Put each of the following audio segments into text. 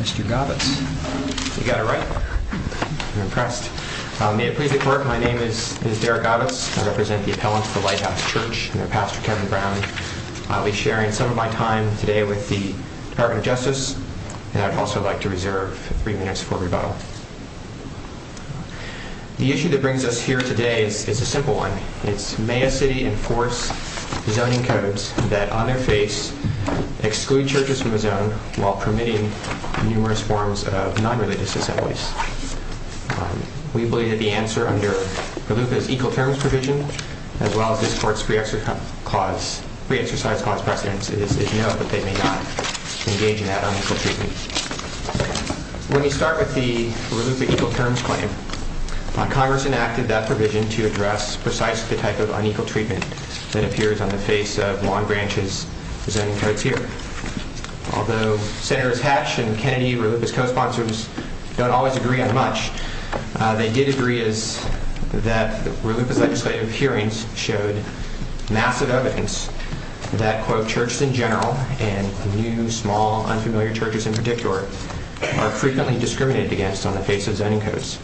Mr. Gavitz. You got it right. I'm impressed. May it please the court, my name is Derek Gavitz. I represent the appellants of the Lighthouse Church and their pastor Kevin Brown. I'll be sharing some of my time today with the Department of Justice and I'd also like to reserve three minutes for rebuttal. The issue that brings us here today is a simple one. It's may a city enforce zoning codes that on their face exclude churches from a zone while permitting numerous forms of non-religious assemblies. We believe that the answer under Gallupa's equal terms provision as well as this court's pre-exercise cause precedence is no, that they may not engage in that unequal treatment. When we start with the Gallupa equal terms claim, Congress enacted that provision to address precisely the type of unequal treatment that appears on the face of Long Branch's zoning codes here. Although Senators Hatch and Kennedy, Ralupa's co-sponsors, don't always agree on much, they did agree that Ralupa's legislative hearings showed massive evidence that, quote, churches in general and new, small, unfamiliar churches in particular are frequently discriminated against on the face of zoning codes.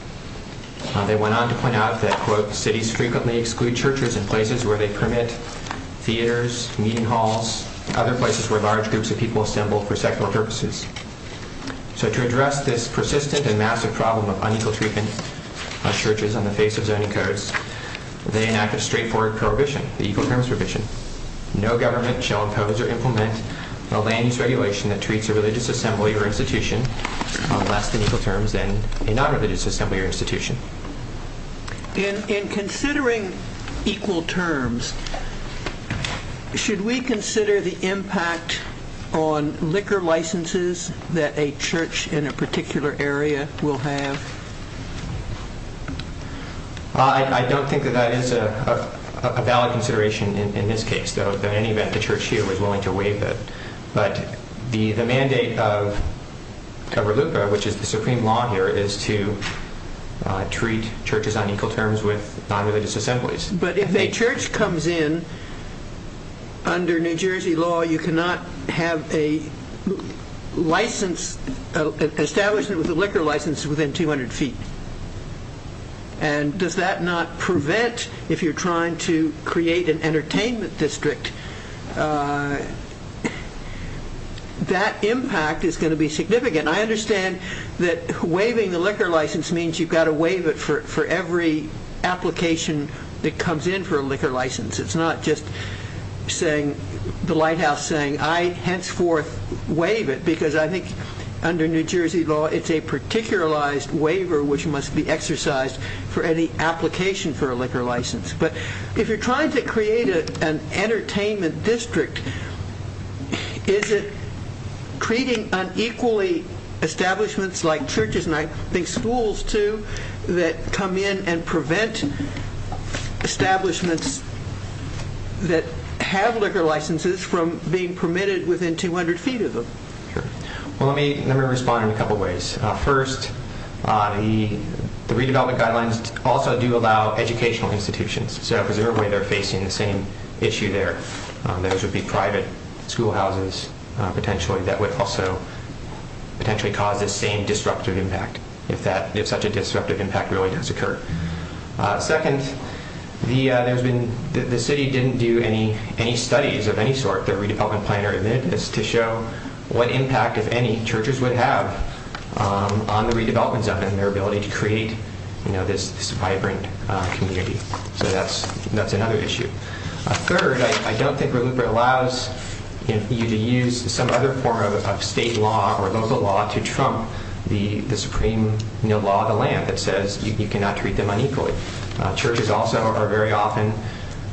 They went on to point out that, quote, cities frequently exclude churches in places where they permit theaters, meeting halls, other places where large groups of people assemble for secular purposes. So to address this persistent and massive problem of unequal treatment of churches on the face of zoning codes, they enacted a straightforward prohibition, the equal terms provision. No government shall impose or implement a land use regulation that treats a religious assembly or institution on less than equal terms than a non-religious assembly or institution. In considering equal terms, should we consider the impact on liquor licenses that a church in a particular area will have? I don't think that that is a valid consideration in this case, though. In any event, the church here was willing to waive it. But the mandate of Cover-Lupa, which is the supreme law here, is to treat churches on equal terms with non-religious assemblies. But if a church comes in, under New Jersey law, you cannot have an establishment with a liquor license within 200 feet. And does that not prevent, if you're trying to create an entertainment district, that impact is going to be significant. I understand that waiving the liquor license means you've got to waive it for every application that comes in for a liquor license. It's not just the Lighthouse saying, I henceforth waive it. Because I think under New Jersey law, it's a particularized waiver which must be exercised for any application for a liquor license. But if you're trying to create an entertainment district, is it treating unequally establishments like churches, and I think schools too, that come in and prevent establishments that have liquor licenses from being permitted within 200 feet of them? Let me respond in a couple of ways. First, the redevelopment guidelines also do allow educational institutions. So presumably they're facing the same issue there. Those would be private schoolhouses, potentially, that would also potentially cause the same disruptive impact, if such a disruptive impact really does occur. Second, the city didn't do any studies of any sort, their redevelopment plan or anything, to show what impact, if any, churches would have on the redevelopment zone and their ability to create this vibrant community. So that's another issue. Third, I don't think RLUIPA allows you to use some other form of state law or local law to trump the supreme law of the land that says you cannot treat them unequally. Churches also are very often,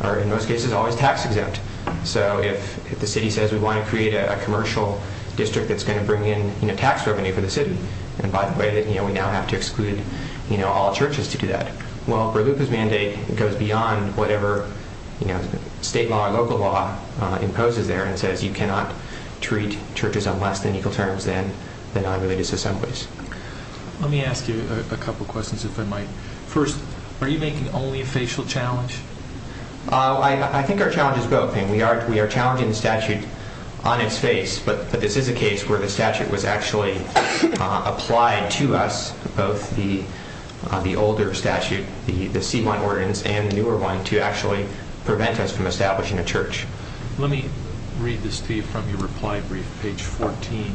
or in most cases, always tax exempt. So if the city says we want to create a commercial district that's going to bring in tax revenue for the city, and by the way, we now have to exclude all churches to do that. Well, RLUIPA's mandate goes beyond whatever state law or local law imposes there and says you cannot treat churches on less than equal terms than non-religious assemblies. Let me ask you a couple questions, if I might. First, are you making only a facial challenge? I think our challenge is both. We are challenging the statute on its face, but this is a case where the statute was actually applied to us, both the older statute, the C1 ordinance, and the newer one, to actually prevent us from establishing a church. Let me read this to you from your reply brief, page 14.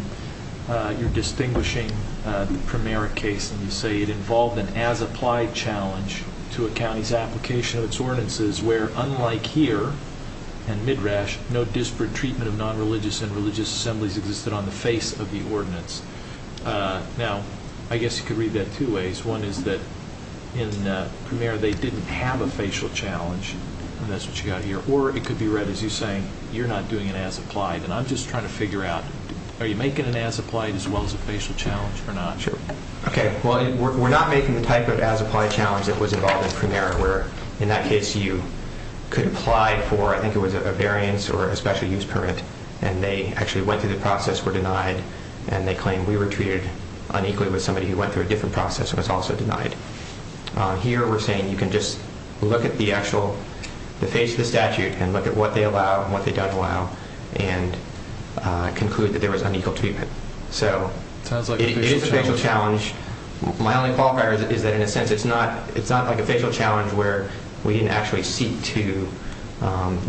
You're distinguishing the primary case, and you say it involved an as-applied challenge to a county's application of its ordinances, where, unlike here and Midrash, no disparate treatment of non-religious and religious assemblies existed on the face of the ordinance. Now, I guess you could read that two ways. One is that in Premier, they didn't have a facial challenge, and that's what you got here. Or it could be read as you saying, you're not doing an as-applied, and I'm just trying to figure out, are you making an as-applied as well as a facial challenge or not? Sure. Okay, well, we're not making the type of as-applied challenge that was involved in Premier, where, in that case, you could apply for, I think it was a variance or a special use permit, and they actually went through the process, were denied, and they claim we were treated unequally with somebody who went through a different process and was also denied. Here, we're saying you can just look at the actual, the face of the statute, and look at what they allow and what they don't allow, and conclude that there was unequal treatment. Sounds like a facial challenge. It is a facial challenge. My only qualifier is that, in a sense, it's not like a facial challenge where we didn't actually seek to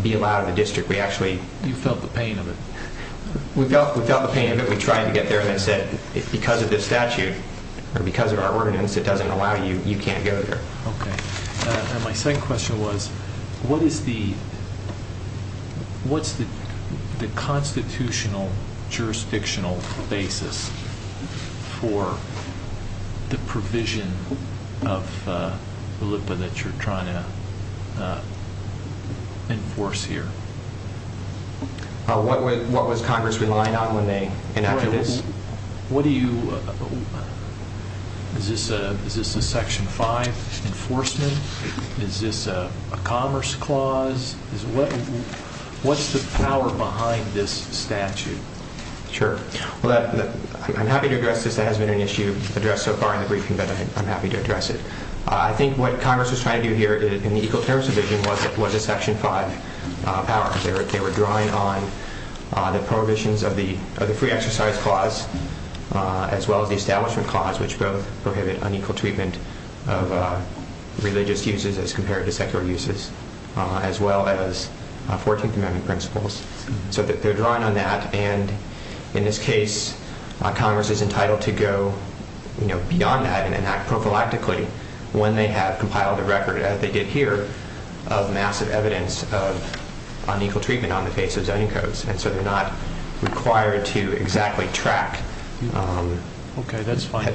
be allowed in the district. You felt the pain of it. We felt the pain of it. We tried to get there, and they said, because of this statute, or because of our ordinance that doesn't allow you, you can't go there. Okay. And my second question was, what is the, what's the constitutional jurisdictional basis for the provision of the LIPA that you're trying to enforce here? What was Congress relying on when they enacted this? What do you, is this a Section 5 enforcement? Is this a commerce clause? What's the power behind this statute? Sure. Well, I'm happy to address this. That hasn't been an issue addressed so far in the briefing, but I'm happy to address it. I think what Congress was trying to do here in the Equal Terms Division was a Section 5 power. They were drawing on the prohibitions of the Free Exercise Clause, as well as the Establishment Clause, which both prohibit unequal treatment of religious uses as compared to secular uses, as well as 14th Amendment principles. So they're drawing on that, and in this case, Congress is entitled to go, you know, beyond that and enact prophylactically when they have compiled a record, as they did here, of massive evidence of unequal treatment on the face of zoning codes, and so they're not required to exactly track head chair's prudence. Okay, that's fine.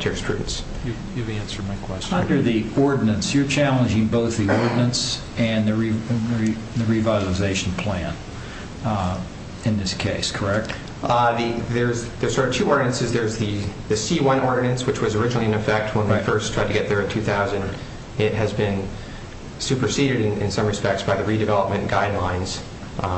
You've answered my question. Under the ordinance, you're challenging both the ordinance and the revitalization plan in this case, correct? There are two ordinances. There's the C-1 ordinance, which was originally in effect when we first tried to get there in 2000. It has been superseded in some respects by the redevelopment guidelines,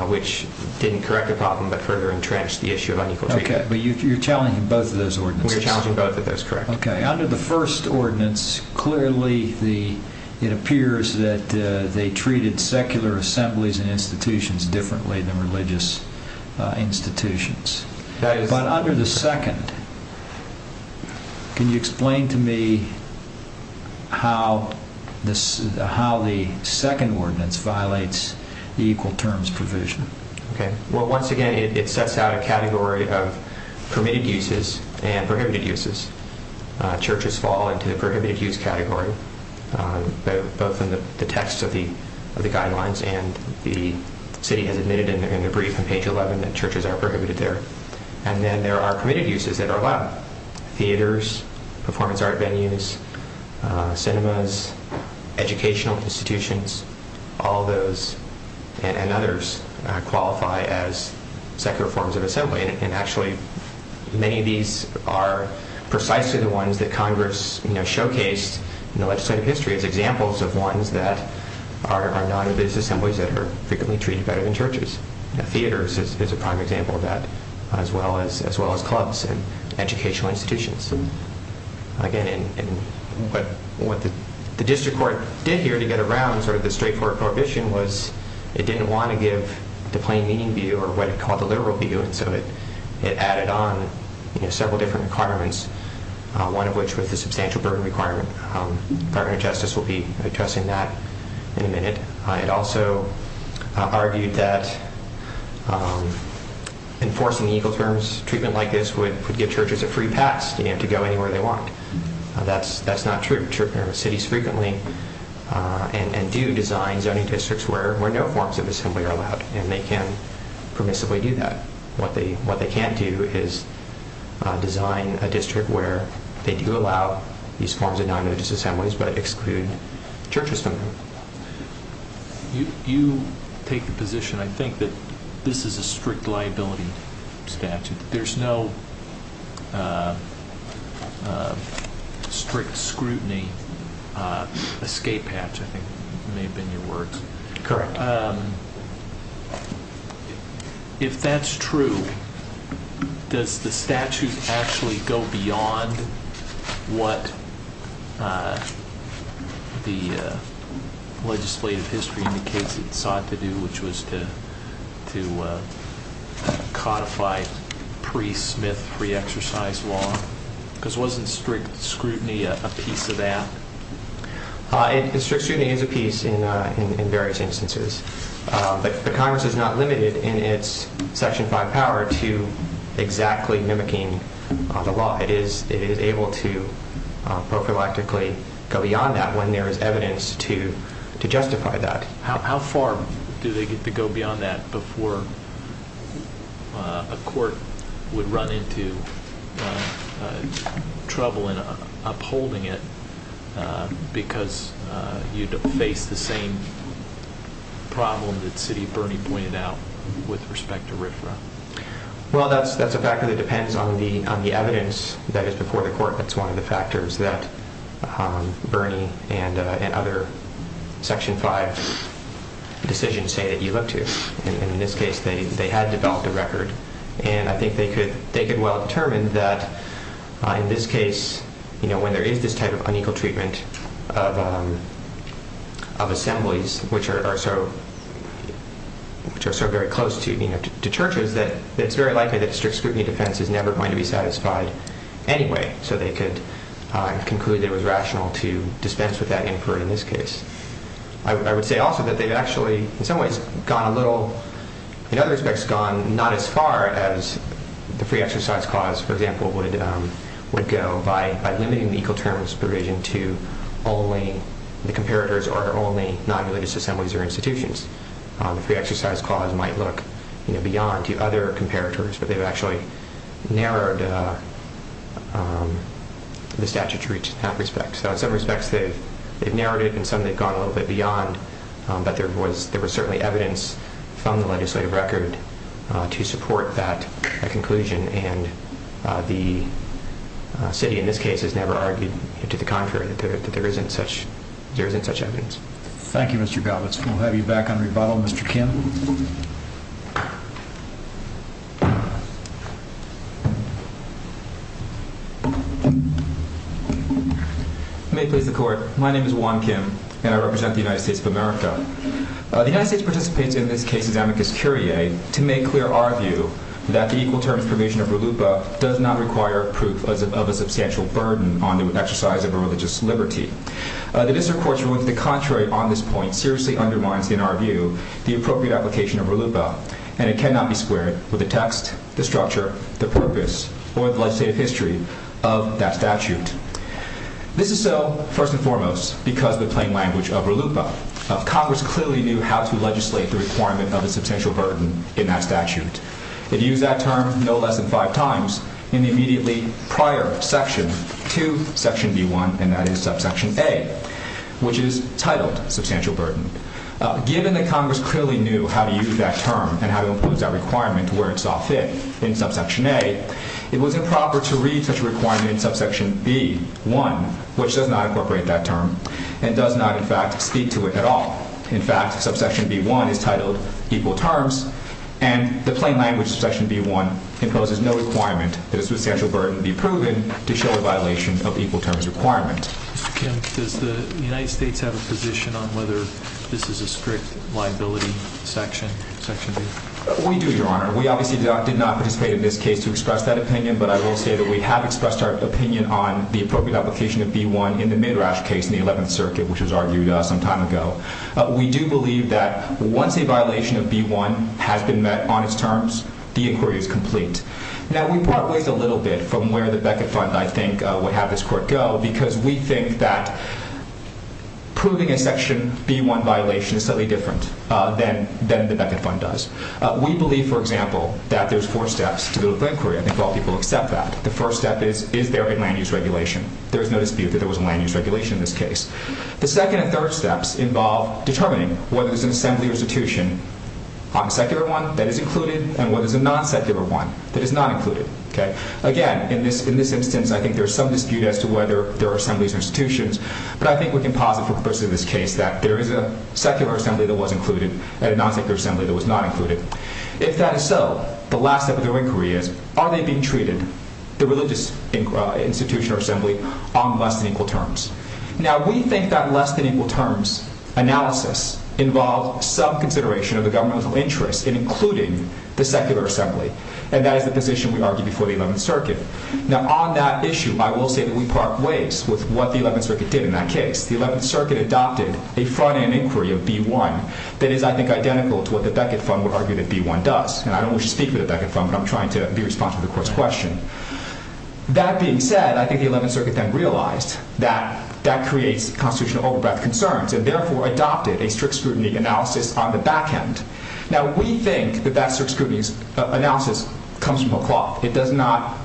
which didn't correct the problem, but further entrenched the issue of unequal treatment. Okay, but you're challenging both of those ordinances. We're challenging both of those, correct. Okay, under the first ordinance, clearly it appears that they treated secular assemblies and institutions differently than religious institutions. But under the second, can you explain to me how the second ordinance violates the equal terms provision? Well, once again, it sets out a category of permitted uses and prohibited uses. Churches fall into the prohibited use category, both in the text of the guidelines and the city has admitted in the brief on page 11 that churches are prohibited there. And then there are permitted uses that are allowed. Theaters, performance art venues, cinemas, educational institutions, all those and others qualify as secular forms of assembly. And actually, many of these are precisely the ones that Congress showcased in the legislative history as examples of ones that are non-religious assemblies that are frequently treated better than churches. Theaters is a prime example of that, as well as clubs and educational institutions. Again, what the district court did here to get around sort of the straightforward prohibition was it didn't want to give the plain meaning view or what it called the literal view. And so it added on several different requirements, one of which was the substantial burden requirement. The Department of Justice will be addressing that in a minute. It also argued that enforcing the equal terms treatment like this would give churches a free pass to go anywhere they want. That's not true. Cities frequently do design zoning districts where no forms of assembly are allowed and they can permissively do that. What they can't do is design a district where they do allow these forms of non-religious assemblies but exclude churches from them. You take the position, I think, that this is a strict liability statute. There's no strict scrutiny escape hatch, I think may have been your words. Correct. If that's true, does the statute actually go beyond what the legislative history indicates it sought to do, which was to codify pre-Smith, pre-exercise law? Because wasn't strict scrutiny a piece of that? Strict scrutiny is a piece in various instances. But the Congress is not limited in its Section 5 power to exactly mimicking the law. It is able to prophylactically go beyond that when there is evidence to justify that. How far do they get to go beyond that before a court would run into trouble in upholding it because you'd face the same problem that City of Bernie pointed out with respect to RFRA? That's a factor that depends on the evidence that is before the court. That's one of the factors that Bernie and other Section 5 decisions say that you look to. In this case, they had developed a record. And I think they could well determine that in this case, when there is this type of unequal treatment of assemblies, which are so very close to churches, that it's very likely that strict scrutiny defense is never going to be satisfied anyway. So they could conclude that it was rational to dispense with that inquiry in this case. I would say also that they've actually, in some ways, gone a little, in other respects, gone not as far as the Free Exercise Clause, for example, would go by limiting the equal terms provision to only the comparators or only non-religious assemblies or institutions. The Free Exercise Clause might look beyond to other comparators, but they've actually narrowed the statute to reach that respect. So in some respects, they've narrowed it, and in some, they've gone a little bit beyond. But there was certainly evidence from the legislative record to support that conclusion. And the city, in this case, has never argued to the contrary that there isn't such evidence. Thank you, Mr. Galbraith. We'll have you back on rebuttal, Mr. Kim. May it please the Court, my name is Juan Kim, and I represent the United States of America. The United States participates in this case's amicus curiae to make clear our view that the equal terms provision of RLUIPA does not require proof of a substantial burden on the exercise of religious liberty. The District Court's ruling to the contrary on this point seriously undermines, in our view, the appropriate application of RLUIPA, and it cannot be squared with the text, the structure, the purpose, or the legislative history of that statute. This is so, first and foremost, because of the plain language of RLUIPA. Congress clearly knew how to legislate the requirement of a substantial burden in that statute. It used that term no less than five times in the immediately prior section to Section B1, and that is Subsection A, which is titled Substantial Burden. Given that Congress clearly knew how to use that term and how to impose that requirement where it saw fit in Subsection A, it was improper to read such a requirement in Subsection B1, which does not incorporate that term and does not, in fact, speak to it at all. In fact, Subsection B1 is titled Equal Terms, and the plain language of Subsection B1 imposes no requirement that a substantial burden be proven to show a violation of equal terms requirement. Mr. Kim, does the United States have a position on whether this is a strict liability section, Section B? We do, Your Honor. We obviously did not participate in this case to express that opinion, but I will say that we have expressed our opinion on the appropriate application of B1 in the Midrash case in the 11th Circuit, which was argued some time ago. We do believe that once a violation of B1 has been met on its terms, the inquiry is complete. Now, we part ways a little bit from where the Beckett Fund, I think, would have this court go, because we think that proving a Section B1 violation is slightly different than the Beckett Fund does. We believe, for example, that there's four steps to the legal inquiry. I think all people accept that. The first step is, is there a land-use regulation? There is no dispute that there was a land-use regulation in this case. The second and third steps involve determining whether there's an assembly or institution on a secular one that is included and whether there's a non-secular one that is not included. Again, in this instance, I think there's some dispute as to whether there are assemblies or institutions, but I think we can posit for purposes of this case that there is a secular assembly that was included and a non-secular assembly that was not included. If that is so, the last step of the inquiry is, are they being treated, the religious institution or assembly, on less than equal terms? Now, we think that less than equal terms analysis involves some consideration of the governmental interest in including the secular assembly, and that is the position we argue before the 11th Circuit. Now, on that issue, I will say that we part ways with what the 11th Circuit did in that case. The 11th Circuit adopted a front-end inquiry of B1 that is, I think, identical to what the Beckett Fund would argue that B1 does. And I don't wish to speak for the Beckett Fund, but I'm trying to be responsive to the Court's question. That being said, I think the 11th Circuit then realized that that creates constitutional over-breath concerns, and therefore adopted a strict scrutiny analysis on the back-end. Now, we think that that strict scrutiny analysis comes from a cloth. It does not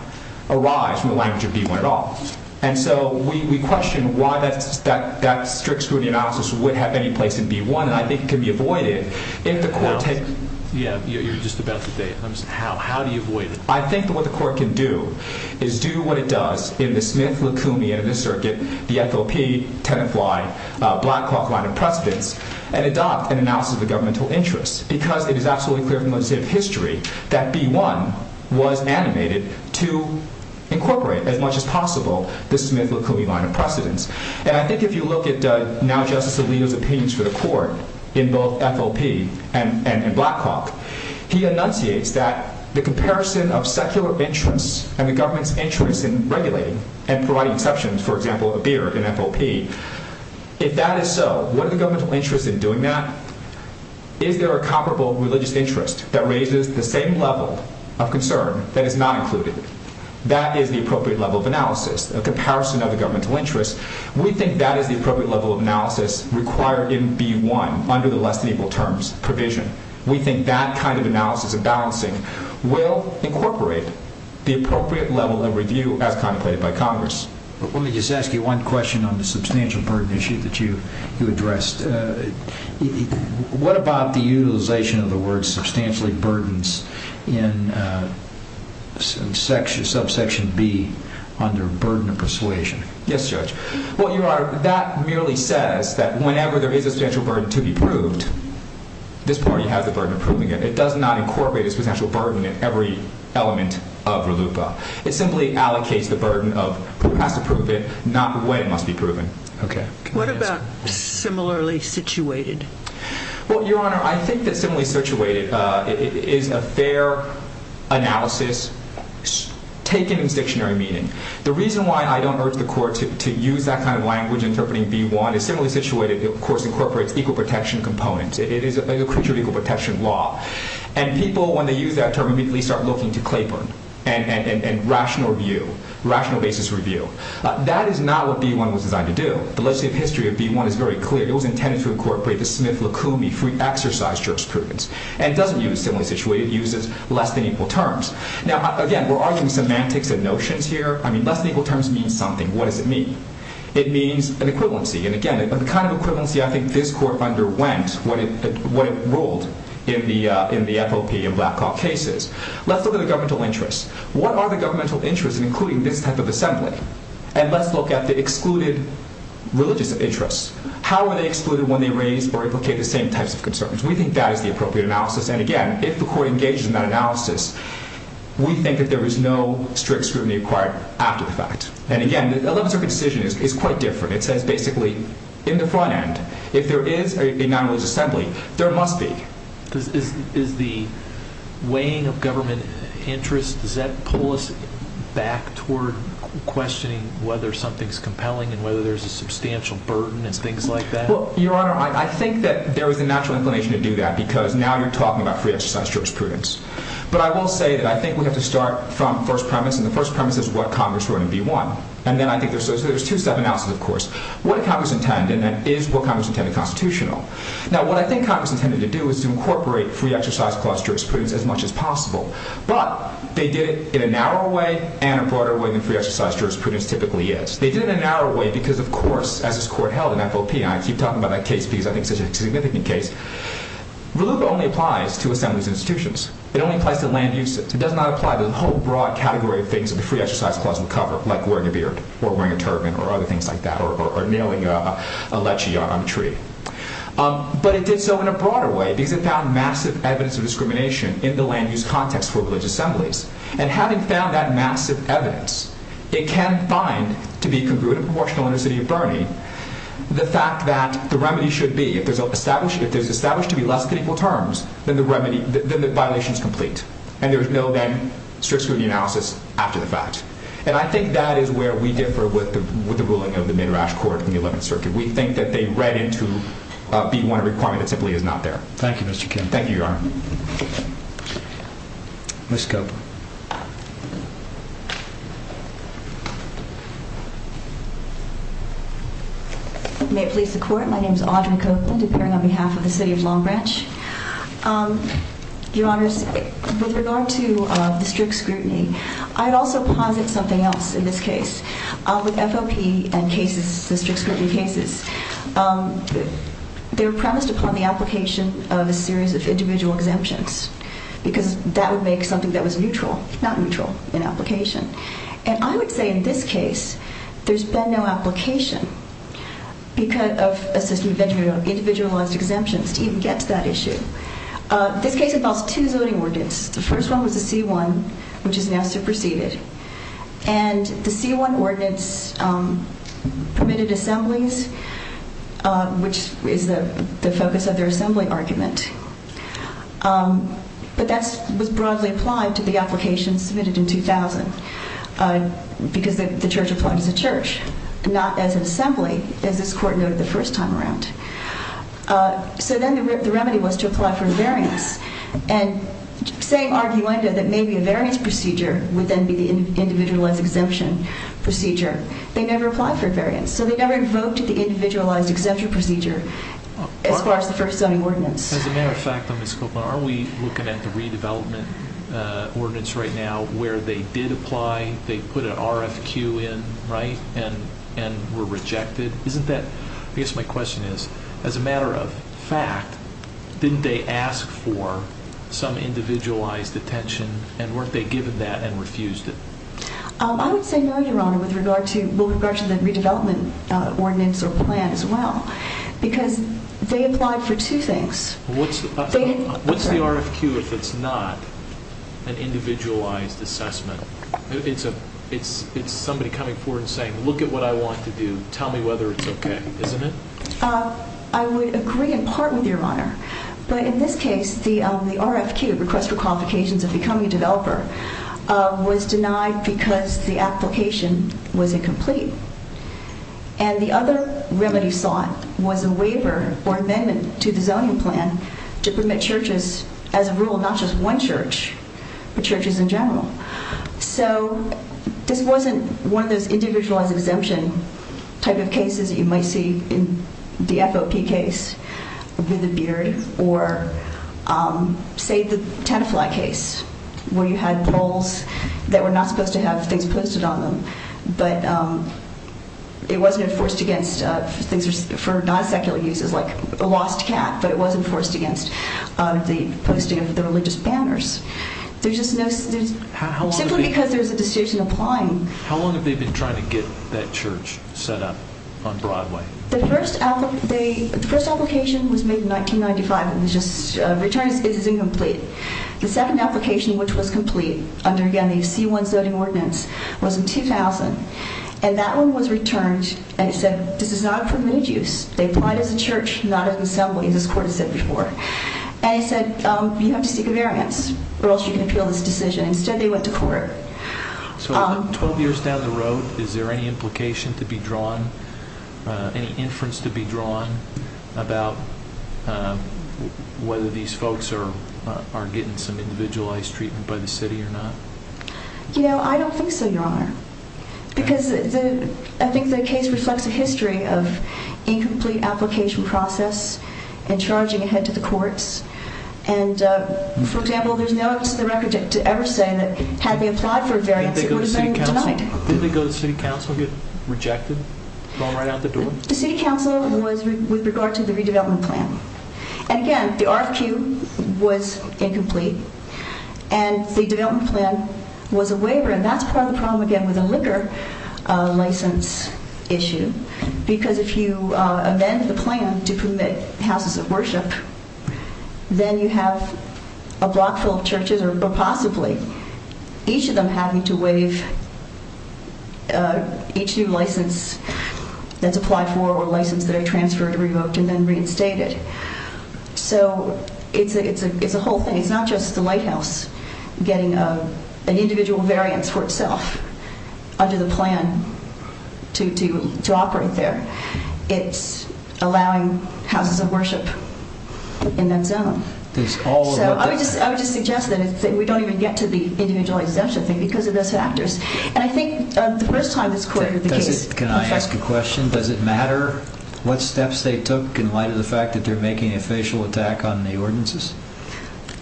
arise from the language of B1 at all. And so we question why that strict scrutiny analysis would have any place in B1, and I think it can be avoided if the Court takes… Yeah, you're just about to say it. How do you avoid it? I think that what the Court can do is do what it does in the Smith-Lacoumi, and in this circuit, the FOP, 10th Y, Blackhawk line of precedence, and adopt an analysis of the governmental interest. Because it is absolutely clear from legislative history that B1 was animated to incorporate, as much as possible, the Smith-Lacoumi line of precedence. And I think if you look at now Justice Alito's opinions for the Court in both FOP and Blackhawk, he enunciates that the comparison of secular interests and the government's interest in regulating and providing exceptions, for example, a beer in FOP, if that is so, what are the governmental interests in doing that? Is there a comparable religious interest that raises the same level of concern that is not included? That is the appropriate level of analysis, a comparison of the governmental interests. We think that is the appropriate level of analysis required in B1 under the less than equal terms provision. We think that kind of analysis and balancing will incorporate the appropriate level of review as contemplated by Congress. Let me just ask you one question on the substantial burden issue that you addressed. What about the utilization of the word substantially burdens in subsection B under burden of persuasion? Yes, Judge. Well, Your Honor, that merely says that whenever there is a substantial burden to be proved, this party has the burden of proving it. It does not incorporate a substantial burden in every element of RLUIPA. It simply allocates the burden of it has to prove it, not the way it must be proven. What about similarly situated? Well, Your Honor, I think that similarly situated is a fair analysis taken in dictionary meaning. The reason why I do not urge the court to use that kind of language interpreting B1 is similarly situated, of course, incorporates equal protection components. It is a creature of equal protection law. And people, when they use that term, immediately start looking to Claiborne and rational review, rational basis review. That is not what B1 was designed to do. The legislative history of B1 is very clear. It was intended to incorporate the Smith-Lacoumi free exercise jurisprudence. And it does not use similarly situated. It uses less than equal terms. Now, again, we are arguing semantics and notions here. I mean, less than equal terms means something. What does it mean? It means an equivalency. And again, the kind of equivalency I think this court underwent when it ruled in the FOP and Black Hawk cases. Let us look at the governmental interests. What are the governmental interests in including this type of assembly? And let us look at the excluded religious interests. How are they excluded when they raise or implicate the same types of concerns? We think that is the appropriate analysis. And again, if the court engages in that analysis, we think that there is no strict scrutiny required after the fact. And again, the 11th Circuit decision is quite different. It says basically in the front end, if there is a non-religious assembly, there must be. Is the weighing of government interests, does that pull us back toward questioning whether something is compelling and whether there is a substantial burden and things like that? Well, Your Honor, I think that there is a natural inclination to do that because now you are talking about free exercise jurisprudence. But I will say that I think we have to start from the first premise. And the first premise is what Congress wrote in B-1. And then I think there is two-step analysis, of course. What did Congress intend? And is what Congress intended constitutional? Now, what I think Congress intended to do is to incorporate free exercise clause jurisprudence as much as possible. But they did it in a narrow way and a broader way than free exercise jurisprudence typically is. They did it in a narrow way because, of course, as this court held in FOP, and I keep talking about that case because I think it is such a significant case, relief only applies to assemblies and institutions. It only applies to land uses. It does not apply to the whole broad category of things that the free exercise clause would cover, like wearing a beard or wearing a turban or other things like that or nailing a lechee on a tree. But it did so in a broader way because it found massive evidence of discrimination in the land use context for religious assemblies. And having found that massive evidence, it can find, to be congruent and proportional in the city of Burney, the fact that the remedy should be, if there is established to be less than equal terms, then the violation is complete. And there is no then strict scrutiny analysis after the fact. And I think that is where we differ with the ruling of the Midrash Court in the 11th Circuit. We think that they read it to be one requirement that simply is not there. Thank you, Mr. Kim. Thank you, Your Honor. Ms. Copeland. May it please the Court, my name is Audrey Copeland, appearing on behalf of the City of Long Branch. Your Honors, with regard to the strict scrutiny, I'd also posit something else in this case. With FOP and cases, the strict scrutiny cases, they were premised upon the application of a series of individual exemptions. Because that would make something that was neutral, not neutral in application. And I would say in this case, there's been no application of a system of individualized exemptions to even get to that issue. This case involves two zoning ordinance. The first one was the C1, which is now superseded. And the C1 ordinance permitted assemblies, which is the focus of their assembly argument. But that was broadly applied to the application submitted in 2000. Because the church applied as a church, not as an assembly, as this Court noted the first time around. So then the remedy was to apply for a variance. And same argument that maybe a variance procedure would then be the individualized exemption procedure. They never applied for a variance. So they never invoked the individualized exemption procedure as far as the first zoning ordinance. As a matter of fact, Ms. Copeland, are we looking at the redevelopment ordinance right now, where they did apply, they put an RFQ in, right, and were rejected? Isn't that, I guess my question is, as a matter of fact, didn't they ask for some individualized attention and weren't they given that and refused it? I would say no, Your Honor, with regard to the redevelopment ordinance or plan as well. Because they applied for two things. What's the RFQ if it's not an individualized assessment? It's somebody coming forward and saying, look at what I want to do, tell me whether it's okay, isn't it? I would agree in part with Your Honor. But in this case, the RFQ, request for qualifications of becoming a developer, was denied because the application was incomplete. And the other remedy sought was a waiver or amendment to the zoning plan to permit churches, as a rule, not just one church, but churches in general. So this wasn't one of those individualized exemption type of cases that you might see in the FOP case with the beard. Or say the Tenafly case, where you had polls that were not supposed to have things posted on them. But it wasn't enforced against things for non-secular uses, like a lost cat, but it wasn't enforced against the posting of the religious banners. Simply because there's a decision applying. How long have they been trying to get that church set up on Broadway? The first application was made in 1995, and it was just returned as incomplete. The second application, which was complete, under, again, the C1 zoning ordinance, was in 2000. And that one was returned, and it said, this is not a permitted use. They applied as a church, not as an assembly, as this Court has said before. And it said, you have to seek a variance, or else you can appeal this decision. Instead, they went to court. So 12 years down the road, is there any implication to be drawn, any inference to be drawn, about whether these folks are getting some individualized treatment by the city or not? You know, I don't think so, Your Honor. Because I think the case reflects a history of incomplete application process, and charging ahead to the courts. And, for example, there's no evidence on the record to ever say that had they applied for a variance, it would have been denied. Did they go to City Council and get rejected, thrown right out the door? The City Council was with regard to the redevelopment plan. And again, the RFQ was incomplete, and the development plan was a waiver. And that's part of the problem, again, with a liquor license issue. Because if you amend the plan to permit houses of worship, then you have a block full of churches, or possibly, each of them having to waive each new license that's applied for, or license that are transferred, revoked, and then reinstated. So it's a whole thing. It's not just the Lighthouse getting an individual variance for itself under the plan to operate there. It's allowing houses of worship in that zone. So I would just suggest that we don't even get to the individualized exemption thing because of those factors. And I think the first time this court heard the case... Can I ask a question? Does it matter what steps they took in light of the fact that they're making a facial attack on the ordinances?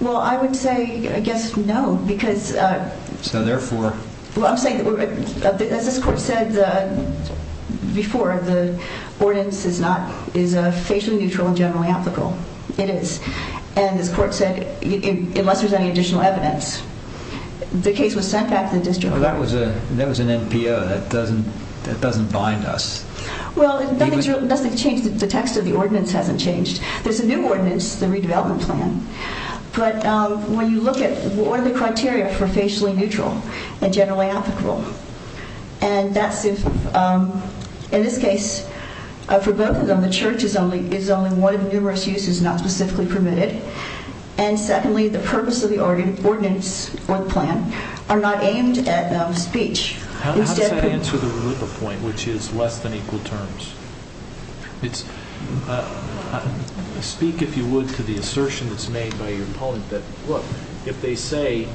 Well, I would say, I guess, no. So therefore... As this court said before, the ordinance is a facially neutral and generally applicable. It is. And this court said, unless there's any additional evidence, the case was sent back to the district court. There was an NPO. That doesn't bind us. Well, nothing's changed. The text of the ordinance hasn't changed. There's a new ordinance, the redevelopment plan. But when you look at what are the criteria for facially neutral and generally applicable? And that's if, in this case, for both of them, the church is only one of numerous uses not specifically permitted. And secondly, the purpose of the ordinance or the plan are not aimed at speech. How does that answer the Rulippa point, which is less than equal terms? Speak, if you would, to the assertion that's made by your opponent that, look, if they say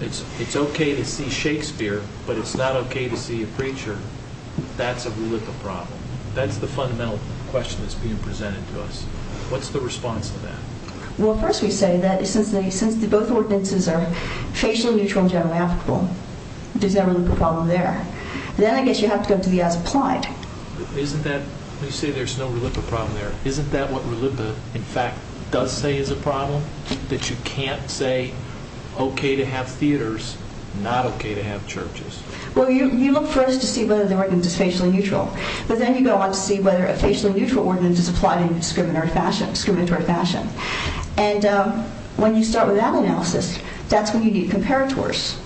it's okay to see Shakespeare, but it's not okay to see a preacher, that's a Rulippa problem. That's the fundamental question that's being presented to us. What's the response to that? Well, first we say that since both ordinances are facially neutral and generally applicable, there's no Rulippa problem there. Then I guess you have to go to the as applied. Isn't that, you say there's no Rulippa problem there. Isn't that what Rulippa, in fact, does say is a problem? That you can't say okay to have theaters, not okay to have churches? Well, you look first to see whether the ordinance is facially neutral. But then you go on to see whether a facially neutral ordinance is applied in a discriminatory fashion. And when you start with that analysis, that's when you need comparators.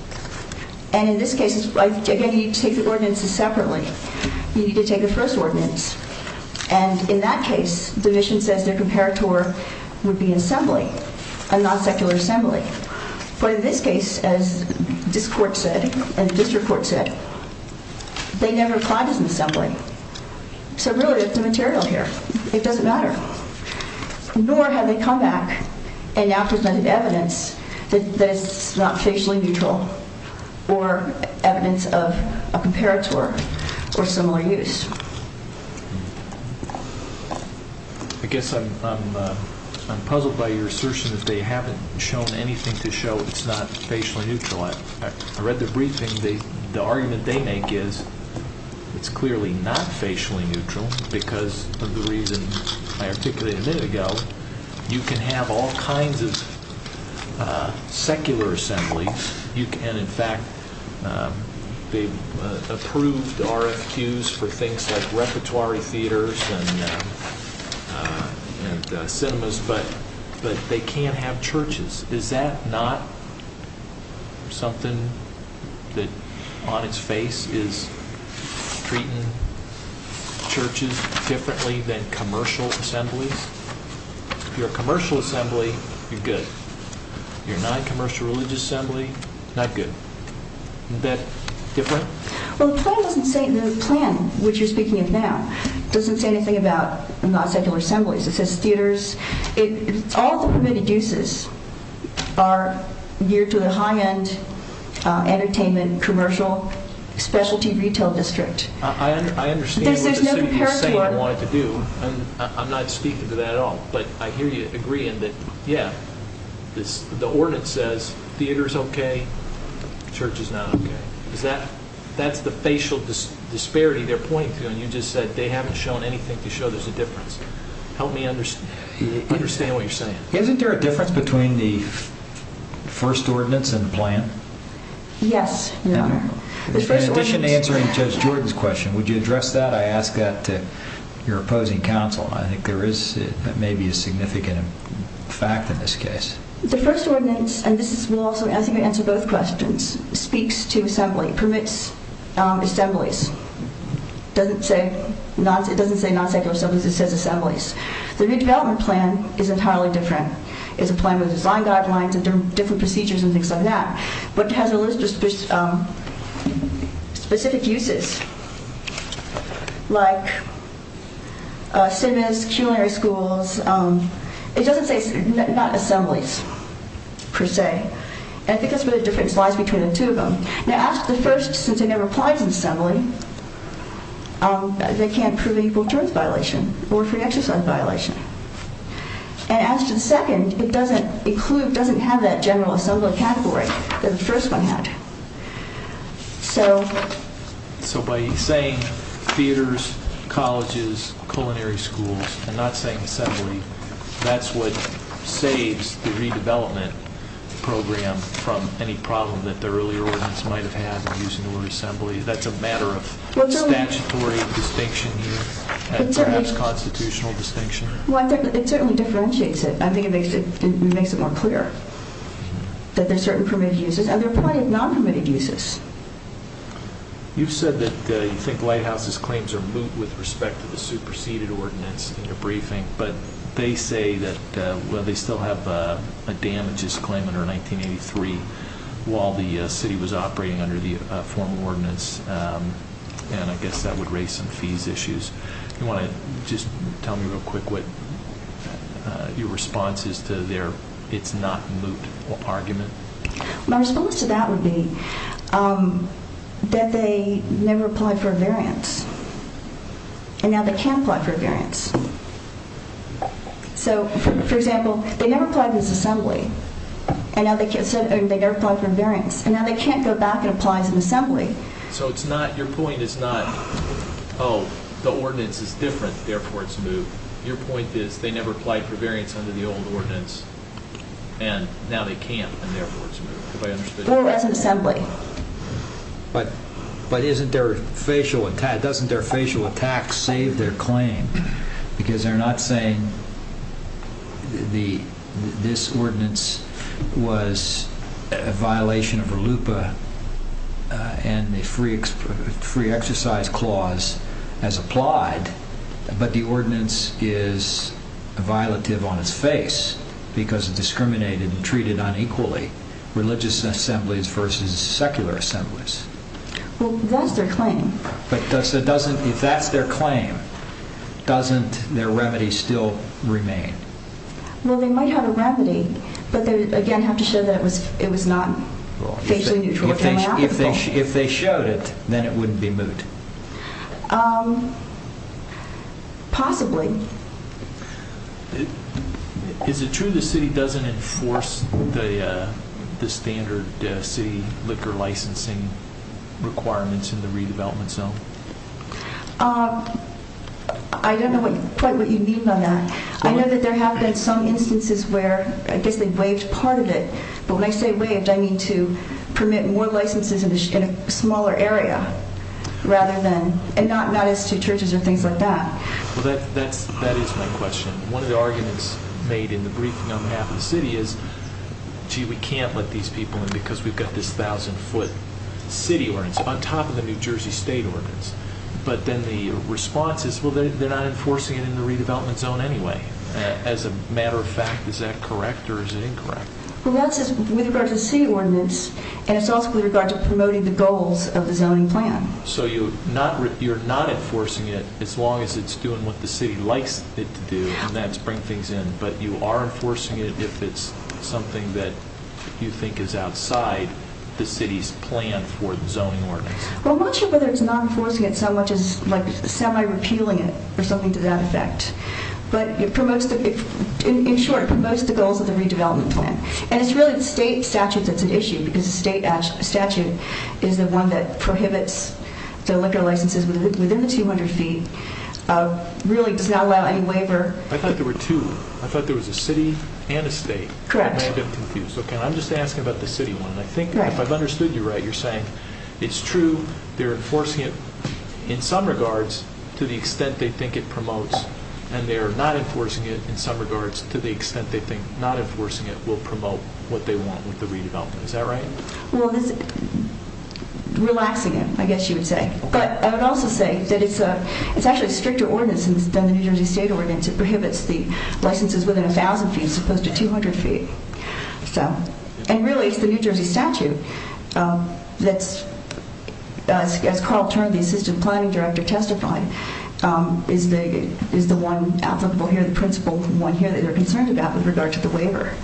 And in this case, again, you take the ordinances separately. You need to take the first ordinance. And in that case, the mission says their comparator would be an assembly, a non-secular assembly. But in this case, as this court said and the district court said, they never applied as an assembly. So really, it's a material here. It doesn't matter. Nor have they come back and now presented evidence that it's not facially neutral or evidence of a comparator or similar use. I guess I'm puzzled by your assertion that they haven't shown anything to show it's not facially neutral. I read the briefing. The argument they make is it's clearly not facially neutral because of the reason I articulated a minute ago. You can have all kinds of secular assemblies. And in fact, they approved RFQs for things like repertory theaters and cinemas. But they can't have churches. Is that not something that on its face is treating churches differently than commercial assemblies? If you're a commercial assembly, you're good. If you're a non-commercial religious assembly, not good. Isn't that different? Well, the plan doesn't say anything about non-secular assemblies. It says theaters. All the permitted uses are geared to the high-end entertainment, commercial, specialty retail district. I understand what you're saying you wanted to do. I'm not speaking to that at all. But I hear you agreeing that, yeah, the ordinance says theater is okay. Church is not okay. That's the facial disparity they're pointing to. And you just said they haven't shown anything to show there's a difference. Help me understand what you're saying. Isn't there a difference between the first ordinance and the plan? Yes, there are. In addition to answering Judge Jordan's question, would you address that? I ask that to your opposing counsel. I think there may be a significant fact in this case. The first ordinance, and I think I answered both questions, speaks to assembly, permits assemblies. It doesn't say non-secular assemblies. It says assemblies. The redevelopment plan is entirely different. It's a plan with design guidelines and different procedures and things like that. But it has a list of specific uses. Like civics, culinary schools. It doesn't say assemblies per se. I think that's where the difference lies between the two of them. Now, as to the first, since it never applies in assembly, they can't prove equal terms violation or free exercise violation. And as to the second, it doesn't include, doesn't have that general assembly category that the first one had. So... So by saying theaters, colleges, culinary schools, and not saying assembly, that's what saves the redevelopment program from any problem that the earlier ordinance might have had using the word assembly? That's a matter of statutory distinction here? Perhaps constitutional distinction? Well, it certainly differentiates it. I think it makes it more clear that there are certain permitted uses. And there are probably non-permitted uses. You've said that you think Lighthouse's claims are moot with respect to the superseded ordinance in your briefing. But they say that, well, they still have a damages claim under 1983 while the city was operating under the formal ordinance. And I guess that would raise some fees issues. You want to just tell me real quick what your response is to their it's not moot argument? My response to that would be that they never applied for a variance. And now they can't apply for a variance. So, for example, they never applied for this assembly. And now they can't, they never applied for a variance. And now they can't go back and apply as an assembly. So it's not, your point is not, oh, the ordinance is different, therefore it's moot. Your point is they never applied for variance under the old ordinance. And now they can't, and therefore it's moot. Go back to assembly. But isn't their facial attack, doesn't their facial attack save their claim? Because they're not saying this ordinance was a violation of RLUIPA and the free exercise clause as applied. But the ordinance is a violative on its face because it discriminated and treated unequally religious assemblies versus secular assemblies. Well, that's their claim. But if that's their claim, doesn't their remedy still remain? Well, they might have a remedy, but they, again, have to show that it was not facially neutral. If they showed it, then it wouldn't be moot. Possibly. Is it true the city doesn't enforce the standard city liquor licensing requirements in the redevelopment zone? I don't know quite what you mean by that. I know that there have been some instances where I guess they waived part of it. But when I say waived, I mean to permit more licenses in a smaller area rather than, and not as to churches or things like that. Well, that is my question. One of the arguments made in the briefing on behalf of the city is, gee, we can't let these people in because we've got this thousand-foot city ordinance on top of the New Jersey state ordinance. But then the response is, well, they're not enforcing it in the redevelopment zone anyway. As a matter of fact, is that correct or is it incorrect? The response is with regard to the city ordinance, and it's also with regard to promoting the goals of the zoning plan. So you're not enforcing it as long as it's doing what the city likes it to do, and that's bring things in. But you are enforcing it if it's something that you think is outside the city's plan for the zoning ordinance. Well, I'm not sure whether it's not enforcing it so much as, like, semi-repealing it or something to that effect. But in short, it promotes the goals of the redevelopment plan. One of the state statutes that's an issue, because the state statute is the one that prohibits the liquor licenses within the 200 feet, really does not allow any waiver. I thought there were two. I thought there was a city and a state. Correct. I'm just asking about the city one, and I think if I've understood you right, you're saying it's true, they're enforcing it in some regards to the extent they think it promotes, and they're not enforcing it in some regards to the extent they think not enforcing it will promote what they want with the redevelopment. Is that right? Well, it's relaxing it, I guess you would say. But I would also say that it's actually a stricter ordinance than the New Jersey State Ordinance. It prohibits the licenses within 1,000 feet as opposed to 200 feet. And really, it's the New Jersey statute that's, as Carl Turner, the assistant planning director, testified, is the one applicable here, the principle, the one here that they're concerned about with regard to the waiver.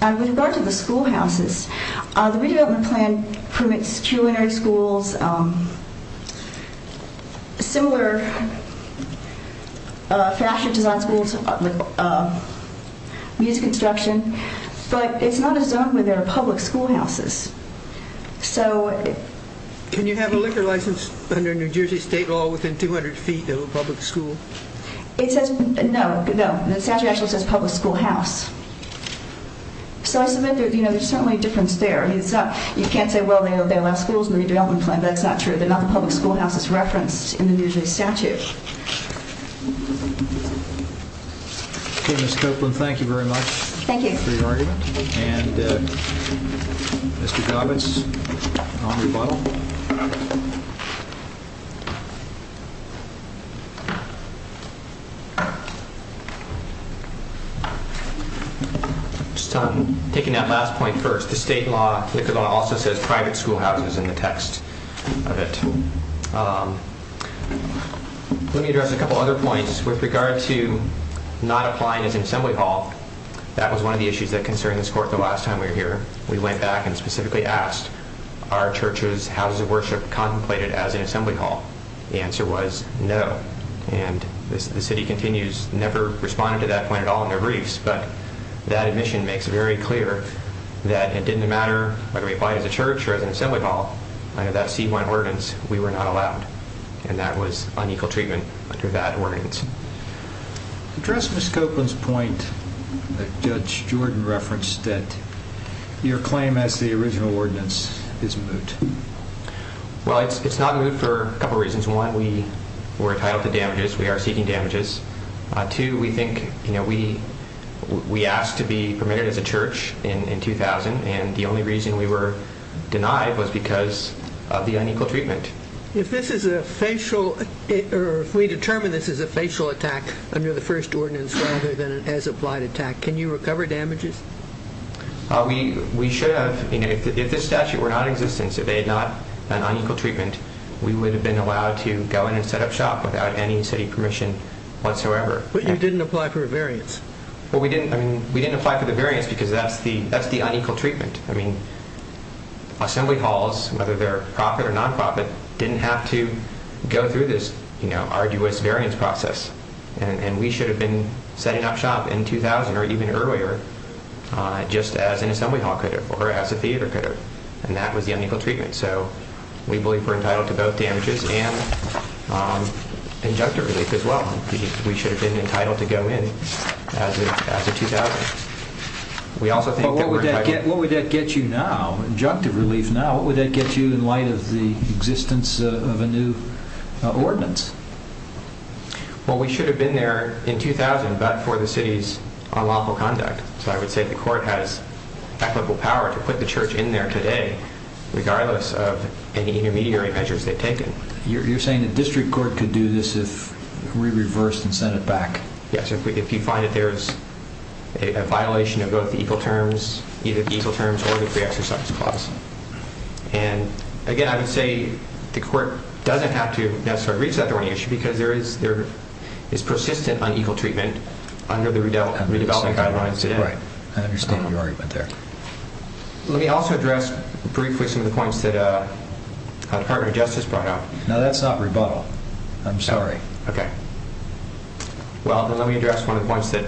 With regard to the schoolhouses, the redevelopment plan permits culinary schools, similar fashion design schools, music instruction, but it's not a zone where there are public schoolhouses. Can you have a liquor license under New Jersey State law within 200 feet of a public school? It says, no, no, the statute actually says public schoolhouse. So I submit there's certainly a difference there. You can't say, well, they allow schools in the redevelopment plan, but that's not true. They're not the public schoolhouses referenced in the New Jersey statute. Okay, Ms. Copeland, thank you very much for your argument. Thank you. And Mr. Govitz, on rebuttal. Just taking that last point first, the state law also says private schoolhouses in the text of it. Let me address a couple other points. With regard to not applying as an assembly hall, that was one of the issues that concerned this court the last time we were here. We went back and specifically asked, are churches, houses of worship contemplated as an assembly hall? The answer was no. And the city continues, never responded to that point at all in their briefs. But that admission makes it very clear that it didn't matter whether we applied as a church or as an assembly hall, under that C1 ordinance, we were not allowed. And that was unequal treatment under that ordinance. To address Ms. Copeland's point that Judge Jordan referenced, that your claim as the original ordinance is moot. Well, it's not moot for a couple reasons. One, we were entitled to damages. We are seeking damages. Two, we think, you know, we asked to be permitted as a church in 2000, and the only reason we were denied was because of the unequal treatment. If this is a facial, or if we determine this is a facial attack under the first ordinance rather than an as-applied attack, can you recover damages? We should have. If this statute were non-existent, if they had not done unequal treatment, we would have been allowed to go in and set up shop without any city permission whatsoever. But you didn't apply for a variance. Well, we didn't apply for the variance because that's the unequal treatment. I mean, assembly halls, whether they're profit or non-profit, didn't have to go through this, you know, arduous variance process. And we should have been setting up shop in 2000, or even earlier, just as an assembly hall could have, or as a theater could have. And that was the unequal treatment. So we believe we're entitled to both damages and injunctive relief as well. We should have been entitled to go in as of 2000. What would that get you now, injunctive relief now? What would that get you in light of the existence of a new ordinance? Well, we should have been there in 2000, but for the city's unlawful conduct. So I would say the court has applicable power to put the church in there today, regardless of any intermediary measures they've taken. You're saying the district court could do this if we reversed and sent it back? Yes, if you find that there's a violation of both the equal terms, either the equal terms or the free exercise clause. And, again, I would say the court doesn't have to necessarily reach out if there were any issues, because there is persistent unequal treatment under the redevelopment guidelines. Right. I understand what you're arguing there. Let me also address briefly some of the points that our partner Justice brought up. No, that's not rebuttal. I'm sorry. Okay. Well, then let me address one of the points that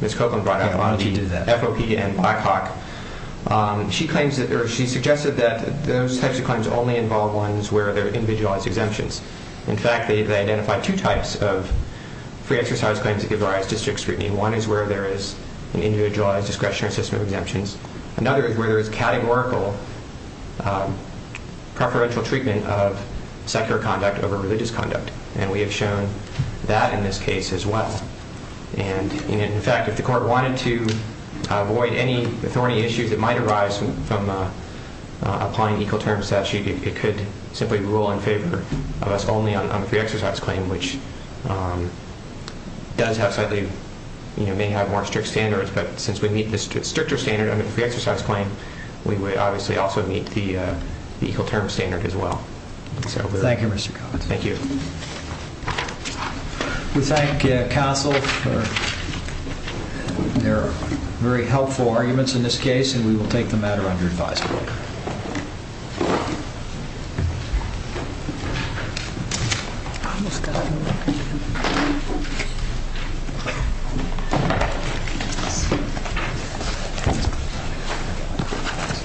Ms. Copeland brought up on the FOP and Black Hawk. She claims that, or she suggested that those types of claims only involve ones where there are individualized exemptions. In fact, they identify two types of free exercise claims that give the right to district scrutiny. One is where there is an individualized discretionary system of exemptions. Another is where there is categorical preferential treatment of secular conduct over religious conduct. And we have shown that in this case as well. And, in fact, if the court wanted to avoid any thorny issues that might arise from applying equal terms statute, it could simply rule in favor of us only on the free exercise claim, which does have slightly, you know, may have more strict standards. But since we meet the stricter standard of the free exercise claim, we would obviously also meet the equal terms standard as well. Thank you, Mr. Copeland. Thank you. We thank CASEL for their very helpful arguments in this case, and we will take the matter under advisory.